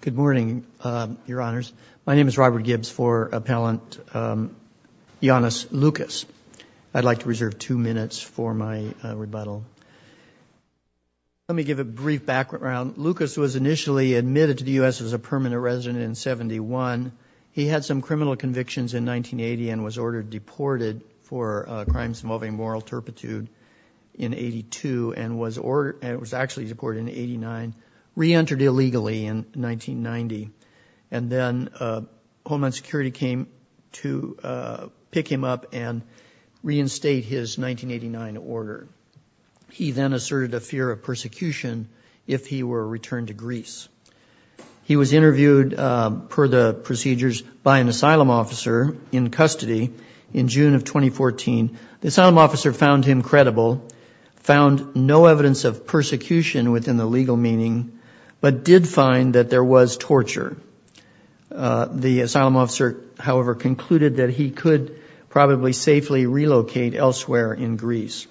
Good morning, Your Honors. My name is Robert Gibbs for Appellant Ioannis Loukas. I'd like to reserve two minutes for my rebuttal. Let me give a brief background. Loukas was initially admitted to the U.S. as a permanent resident in 1971. He had some criminal convictions in 1980 and was ordered deported for crimes involving moral turpitude in 82 and was actually deported in 89, reentered illegally in 1990, and then Homeland Security came to pick him up and reinstate his 1989 order. He then asserted a fear of persecution if he were returned to Greece. He was interviewed per the procedures by an asylum officer in custody in June of the legal meaning, but did find that there was torture. The asylum officer, however, concluded that he could probably safely relocate elsewhere in Greece.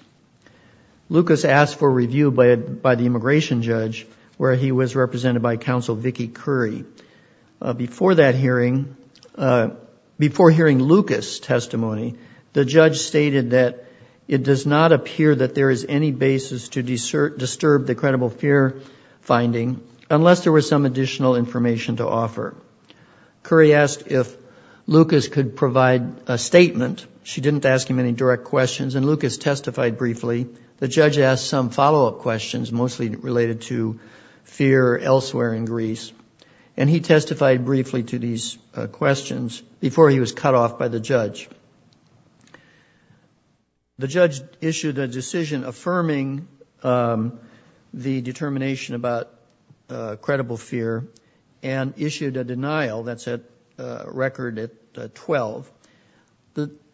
Loukas asked for review by the immigration judge, where he was represented by Counsel Vicky Curry. Before hearing Loukas' testimony, the judge stated that it does not appear that there is any basis to disturb the credible fear finding unless there was some additional information to offer. Curry asked if Loukas could provide a statement. She didn't ask him any direct questions and Loukas testified briefly. The judge asked some follow-up questions, mostly related to fear elsewhere in Greece, and he testified briefly to these questions before he was cut affirming the determination about credible fear and issued a denial that's a record at 12.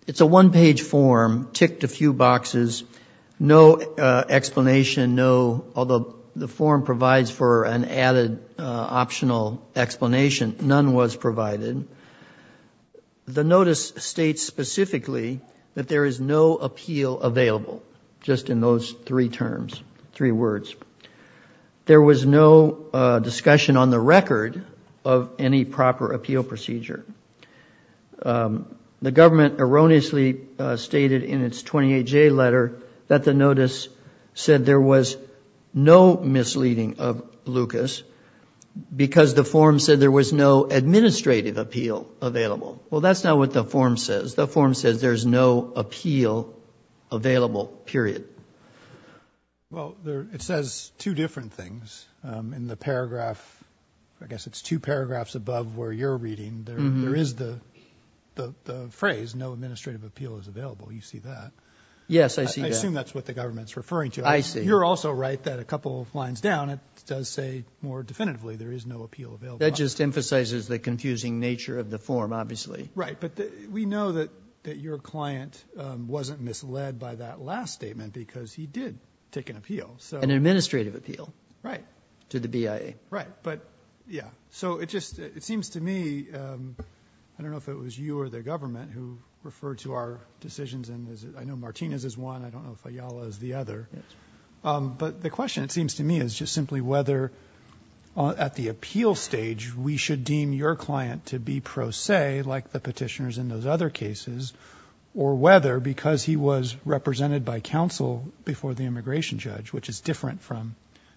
It's a one-page form, ticked a few boxes, no explanation, although the form provides for an added optional explanation, none was provided. The notice states specifically that there is no appeal available, just in those three terms, three words. There was no discussion on the record of any proper appeal procedure. The government erroneously stated in its 28 J letter that the notice said there was no misleading of Loukas because the form said there was no administrative appeal available. Well, that's not what the form says. The form says there's no appeal available, period. Well, it says two different things. In the paragraph, I guess it's two paragraphs above where you're reading, there is the phrase no administrative appeal is available. You see that? Yes, I see that. I assume that's what the government's referring to. I see. You're also right that a couple of lines down it does say more definitively there is no appeal available. That just emphasizes the that your client wasn't misled by that last statement because he did take an appeal. So an administrative appeal. Right. To the BIA. Right. But, yeah. So it just seems to me, I don't know if it was you or the government who referred to our decisions, and I know Martinez is one, I don't know if Ayala is the other. But the question, it seems to me, is just simply whether at the appeal stage we should deem your client to be pro se, like the Petitioners in those other cases, or whether, because he was represented by counsel before the immigration judge, which is different from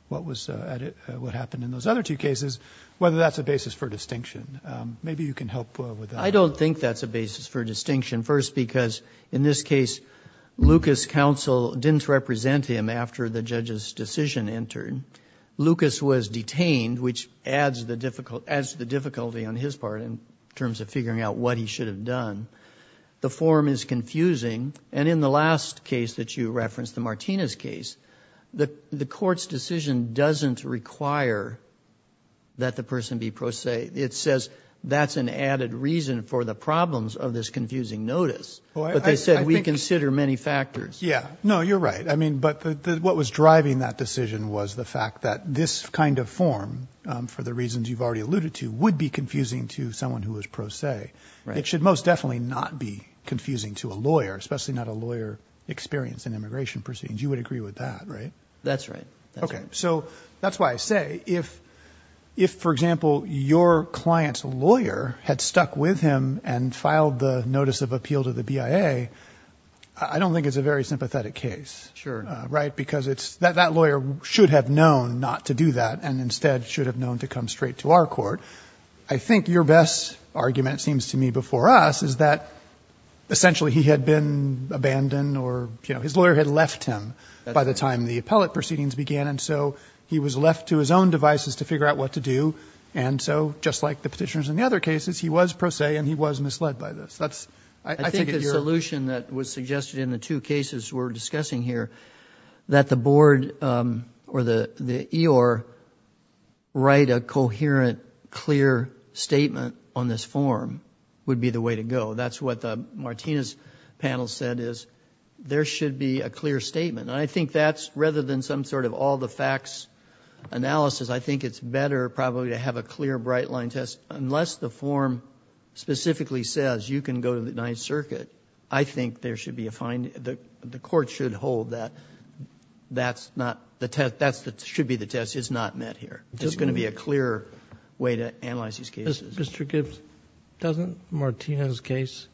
what happened in those other two cases, whether that's a basis for distinction. Maybe you can help with that. I don't think that's a basis for distinction. First, because in this case, Lucas' counsel didn't represent him after the judge's decision entered. Lucas was detained, which adds the difficulty on his part in terms of figuring out what he should have done. The form is confusing. And in the last case that you referenced, the Martinez case, the Court's decision doesn't require that the person be pro se. It says that's an added reason for the problems of this confusing notice. But they said we consider many factors. Yeah. No, you're right. I mean, but what was driving that decision was the fact that this kind of form, for the reasons you've already alluded to, would be confusing to someone who was pro se. It should most definitely not be confusing to a lawyer, especially not a lawyer experienced in immigration proceedings. You would agree with that, right? That's right. Okay. So that's why I say if, for example, your client's lawyer had stuck with him and filed the notice of appeal to the BIA, I don't think it's a very sympathetic case. Sure. Right? Because it's that that lawyer should have known not to do that and instead should have known to come straight to our court. I think your best argument, it seems to me, before us is that essentially he had been abandoned or, you know, his lawyer had left him by the time the appellate proceedings began. And so he was left to his own devices to figure out what to do. And so, just like the Petitioners in the other cases, he was pro se and he was misled by this. That's I think if you're that was suggested in the two cases we're discussing here, that the board or the EOR write a coherent, clear statement on this form would be the way to go. That's what the Martinez panel said is there should be a clear statement. And I think that's rather than some sort of all the facts analysis, I think it's better probably to have a clear bright line test unless the form specifically says you can go to the Ninth Circuit. I think there should be a fine. The court should hold that. That's not the test. That's that should be the test. It's not met here. It's going to be a clear way to analyze these cases. Mr. Gibbs, doesn't Martinez's case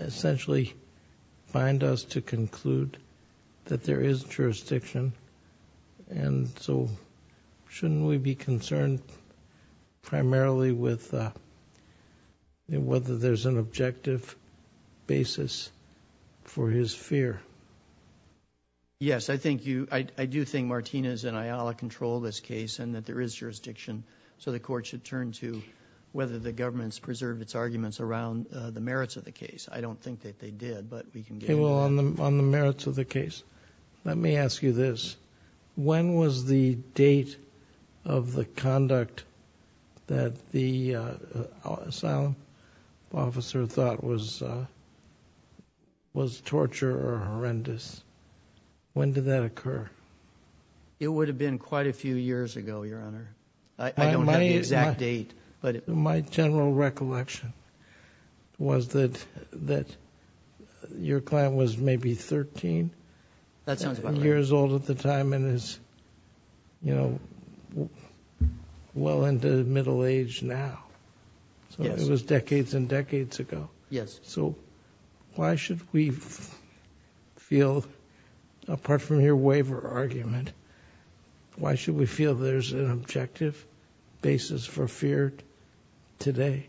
essentially find us to conclude that there is jurisdiction? And so shouldn't we be concerned primarily with whether there's an objective basis for his fear? Yes, I think you I do think Martinez and Ayala control this case and that there is jurisdiction. So the court should turn to whether the government's preserved its arguments around the merits of the case. I don't think that they did, but we can get on the merits of the case. Let me ask you this. When was the date of the conduct that the asylum officer thought was was torture or horrendous? When did that occur? It would have been quite a few years ago, Your Honor. I don't know the exact date. My general recollection was that that your client was maybe 13 years old at the time and is, you know, well into middle age now. So it was decades and decades ago. Yes. So why should we feel, apart from your waiver argument, why should we feel there's an objective basis for fear today?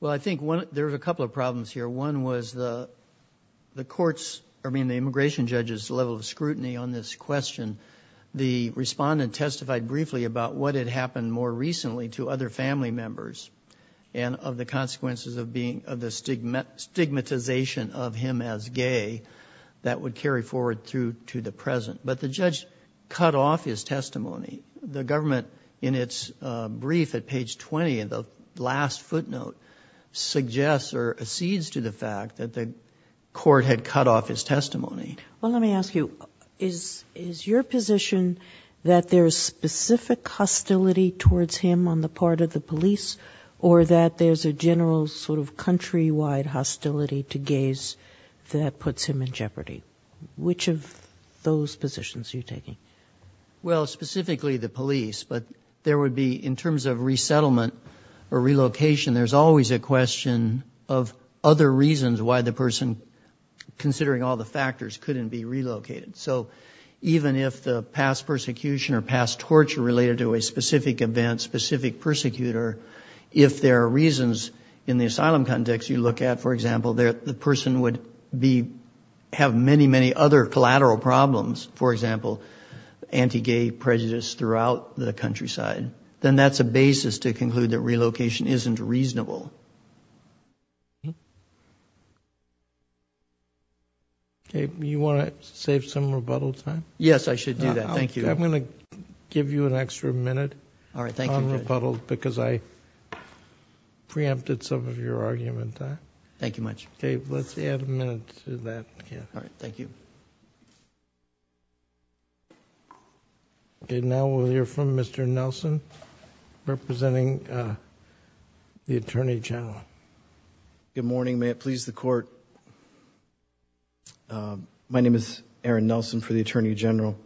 Well, I think one there's a couple of problems here. One was the the courts, I mean the immigration judge's level of scrutiny on this question. The respondent testified briefly about what had happened more recently to other family members and of the consequences of being of the stigmatization of him as gay that would carry forward through to the present. But the judge cut off his testimony. The government, in its brief at page 20, in the last footnote, suggests or accedes to the fact that the court had cut off his testimony. Well, let me ask you, is is your position that there's specific hostility towards him on the part of the police or that there's a general sort of countrywide hostility to gays that puts him in jeopardy? Which of those positions are you taking? Well, specifically the police. But there would be, in terms of resettlement or relocation, there's always a question of other reasons why the person, considering all the factors, couldn't be relocated. So even if the past persecution or past torture related to a specific event, specific persecutor, if there are reasons in the asylum context you look at, for example, the person would have many, many other collateral problems, for example, anti-gay prejudice throughout the countryside, then that's a basis to conclude that relocation isn't reasonable. Okay, you want to save some rebuttal time? Yes, I should do that. Thank you. I'm going to give you an extra minute on rebuttal because I preempted some of your argument. Thank you much. Okay, let's add a minute to that. All right, thank you. Okay, now we'll hear from Mr. Nelson, representing the Attorney General. Good morning, may it please the Court. My name is Aaron Nelson for the Attorney General.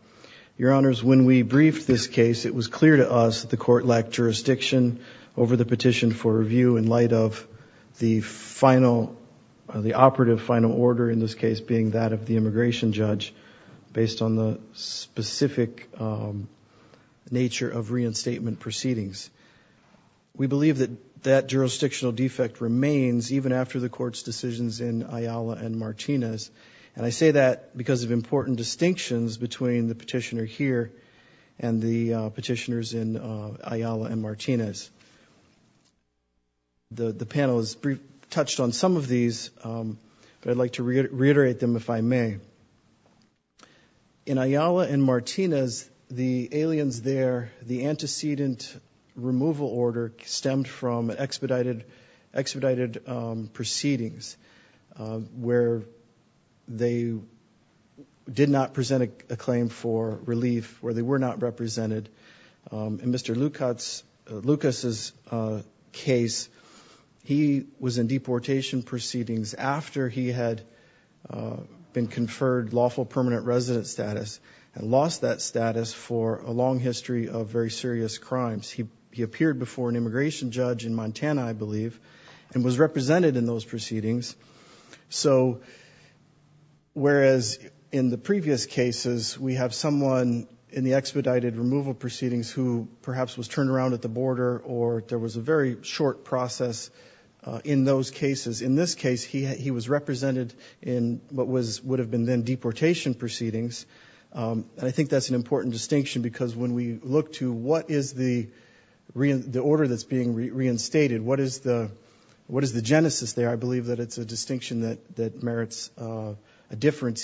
Your Honors, when we briefed this case, it was clear to us that the Court lacked jurisdiction over the petition for review in light of the final, the operative final order in this case being that of the immigration judge, based on the specific nature of reinstatement proceedings. We believe that that jurisdictional defect remains even after the Court's decisions in Ayala and Martinez, and I say that because of important distinctions between the Ayala and Martinez. The panel has briefly touched on some of these, but I'd like to reiterate them if I may. In Ayala and Martinez, the aliens there, the antecedent removal order, stemmed from expedited proceedings where they did not present a claim for relief, where they were not represented, and Mr. Lucas's case, he was in deportation proceedings after he had been conferred lawful permanent resident status, and lost that status for a long history of very serious crimes. He appeared before an immigration judge in Montana, I believe, and was represented in those proceedings. So, whereas in the previous cases, we have someone in the expedited removal proceedings who perhaps was turned around at the border, or there was a very short process in those cases, in this case, he was represented in what would have been then deportation proceedings. I think that's an important distinction, because when we look to what is the order that's being reinstated, what is the genesis there, I believe that it's a distinction that merits a different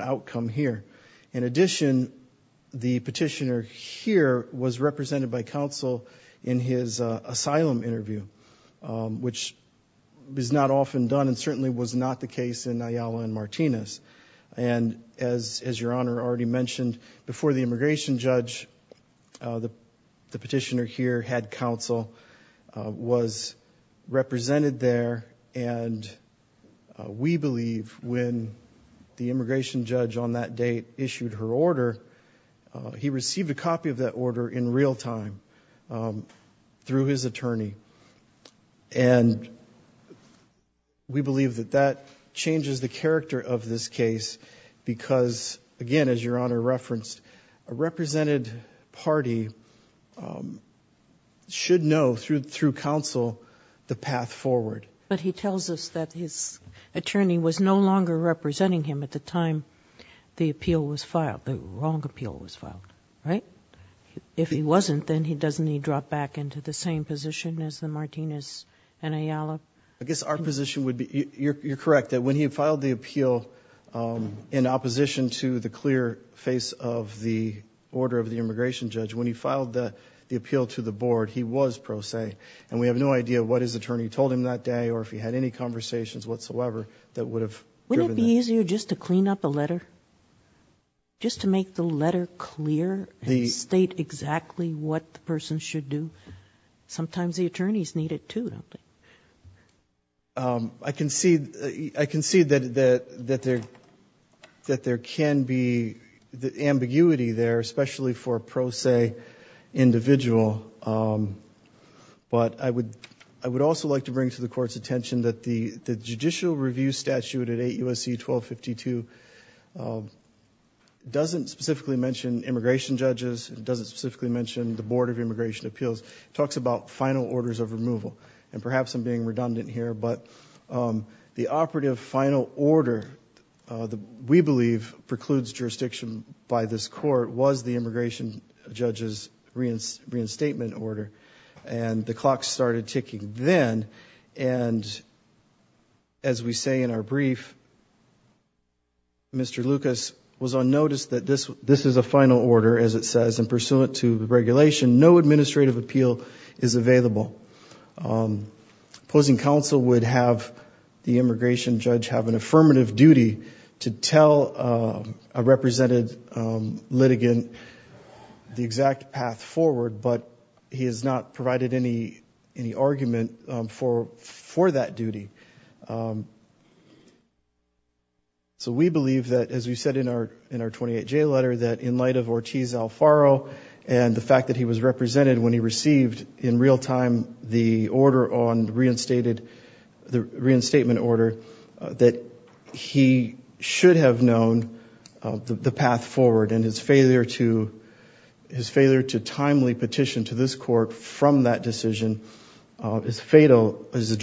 outcome here. In addition, the petitioner here was represented by counsel in his asylum interview, which is not often done, and certainly was not the case in Ayala and Martinez. And as your Honor already mentioned, before the immigration judge, the petitioner here had counsel, was represented there, and we believe when the immigration judge on that date issued her order, he received a copy of that order in real time through his attorney. And we believe that that changes the character of this case, because, again, as your Honor referenced, a represented party should know through counsel the path forward. But he tells us that his attorney was no longer representing him at the time the appeal was filed, the wrong appeal was filed, right? If he wasn't, then doesn't he drop back into the same position as the Martinez and Ayala? I guess our position would be, you're correct, that when he filed the appeal in opposition to the clear face of the order of the immigration judge, when he filed the appeal to the board, he was pro se, and we have no idea what his attorney told him that day or if he had any conversations whatsoever that would have driven that. Is it easier just to clean up a letter, just to make the letter clear and state exactly what the person should do? Sometimes the attorneys need it, too, don't they? I concede that there can be ambiguity there, especially for a pro se individual. But I would also like to bring to the Court's attention that the judicial review statute at 8 U.S.C. 1252 doesn't specifically mention immigration judges, it doesn't specifically mention the Board of Immigration Appeals. It talks about final orders of removal, and perhaps I'm being redundant here, but the operative final order that we believe precludes jurisdiction by this Court was the immigration judge's reinstatement order, and the clock started ticking then, and as we say in our brief, Mr. Lucas was on notice that this is a final order, as it says, and pursuant to the regulation, no administrative appeal is available. Opposing counsel would have the immigration judge have an affirmative duty to tell a represented litigant the exact path forward, but he has not that duty. So we believe that, as we said in our 28-J letter, that in light of Ortiz-Alfaro and the fact that he was represented when he received, in real time, the reinstatement order, that he should have known the path forward, and his failure to timely petition to this Court from that decision is fatal as a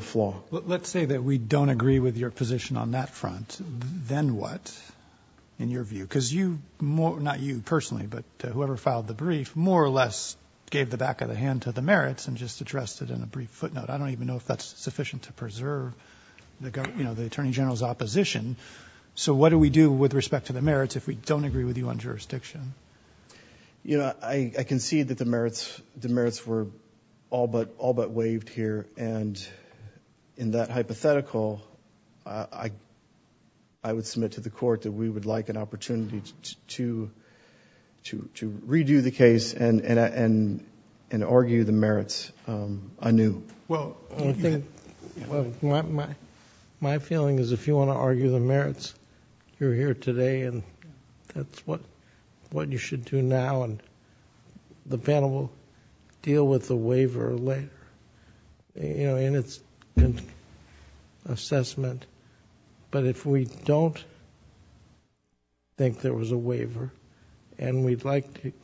flaw. Let's say that we don't agree with your position on that front, then what, in your view? Because you more, not you personally, but whoever filed the brief, more or less gave the back of the hand to the merits and just addressed it in a brief footnote. I don't even know if that's sufficient to preserve the government, you know, the Attorney General's opposition. So what do we do with respect to the merits if we don't agree with you on jurisdiction? You know, I concede that the merits were all but waived here, and in that hypothetical, I would submit to the Court that we would like an opportunity to redo the case and argue the merits anew. Well, my feeling is if you want to argue the merits, you're here today, and that's what you should do now, and the panel will deal with the waiver later, you know, in its assessment. But if we don't think there was a waiver, and we'd like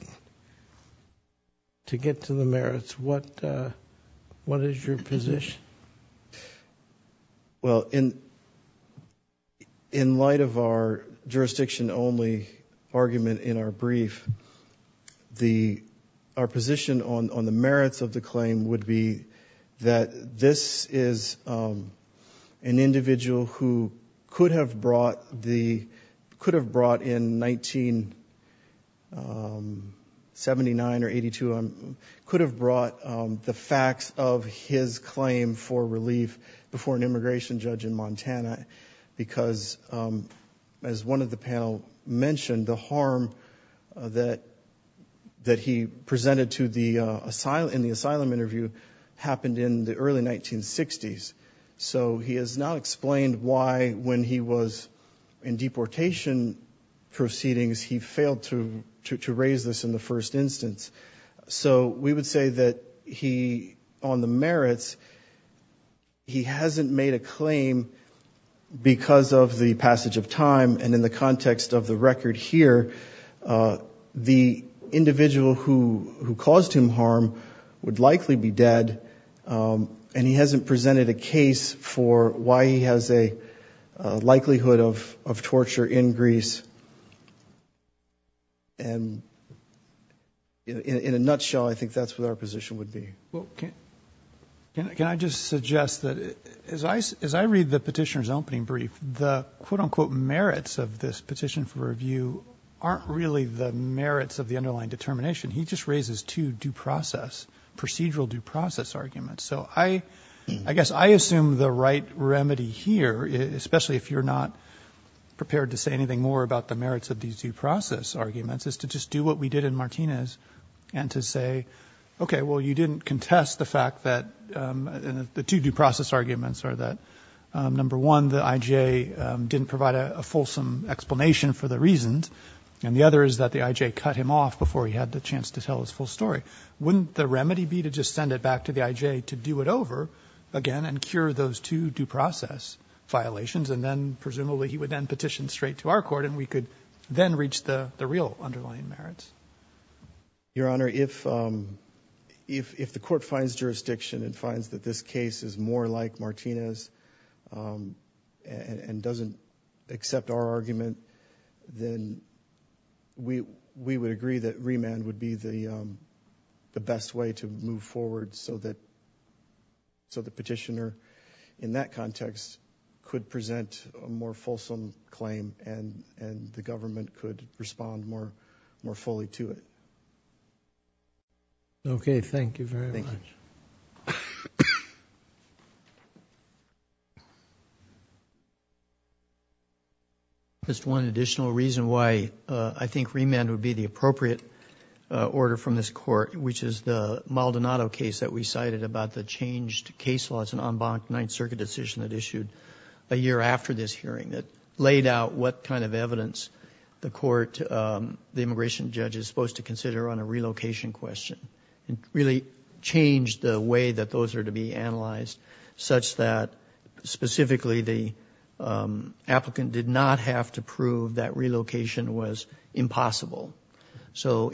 to get to the merits, what is your position? Well, in light of our jurisdiction-only argument in our brief, our position on the merits of the claim would be that this is an individual who could have brought the facts of his claim for relief before an immigration judge in Montana, because as one of the panel mentioned, the harm that he presented in the asylum interview happened in the early 1960s. So he has now explained why, when he was in deportation proceedings, he failed to raise this in the first instance. So we would say that he, on the merits, he hasn't made a claim because of the context of the record here. The individual who caused him harm would likely be dead, and he hasn't presented a case for why he has a likelihood of torture in Greece. And in a nutshell, I think that's what our position would be. Well, can I just suggest that, as I read the petitioner's opening brief, the quote-unquote merits of this petition for review aren't really the merits of the underlying determination. He just raises two due process, procedural due process arguments. So I guess I assume the right remedy here, especially if you're not prepared to say anything more about the merits of these due process arguments, is to just do what we did in Martinez and to say, okay, well, you didn't contest the fact that the two due process arguments are that, number one, the I.J. didn't provide a fulsome explanation for the reasons, and the other is that the I.J. cut him off before he had the chance to tell his full story. Wouldn't the remedy be to just send it back to the I.J. to do it over again and cure those two due process violations, and then presumably he would then petition straight to our Court, and we could then reach the real underlying merits? Your Honor, if the Court finds jurisdiction and finds that this case is more like Martinez and doesn't accept our argument, then we would agree that remand would be the best way to move forward so that the petitioner, in that context, could present a more fulsome claim and the government could respond more fully to it. Okay. Thank you very much. Just one additional reason why I think remand would be the appropriate order from this Court, which is the Maldonado case that we cited about the changed case laws and en banc Ninth Circuit decision that issued a year after this evidence, the immigration judge is supposed to consider on a relocation question, and really change the way that those are to be analyzed such that specifically the applicant did not have to prove that relocation was impossible. So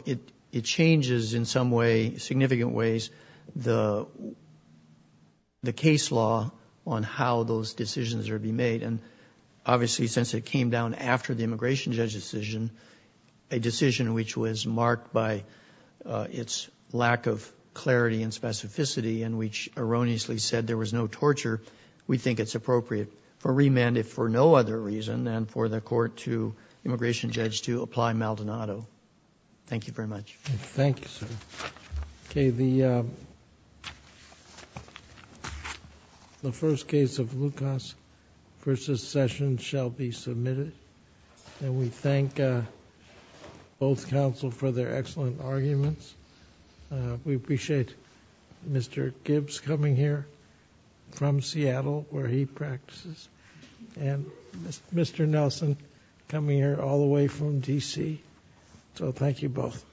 it changes in some way, significant ways, the case law on how those immigration judge decision, a decision which was marked by its lack of clarity and specificity, and which erroneously said there was no torture, we think it's appropriate for remand, if for no other reason, and for the Court to immigration judge to apply Maldonado. Thank you very much. Thank you, sir. And we thank both counsel for their excellent arguments. We appreciate Mr. Gibbs coming here from Seattle, where he practices, and Mr. Nelson coming here all the way from DC. So thank you both.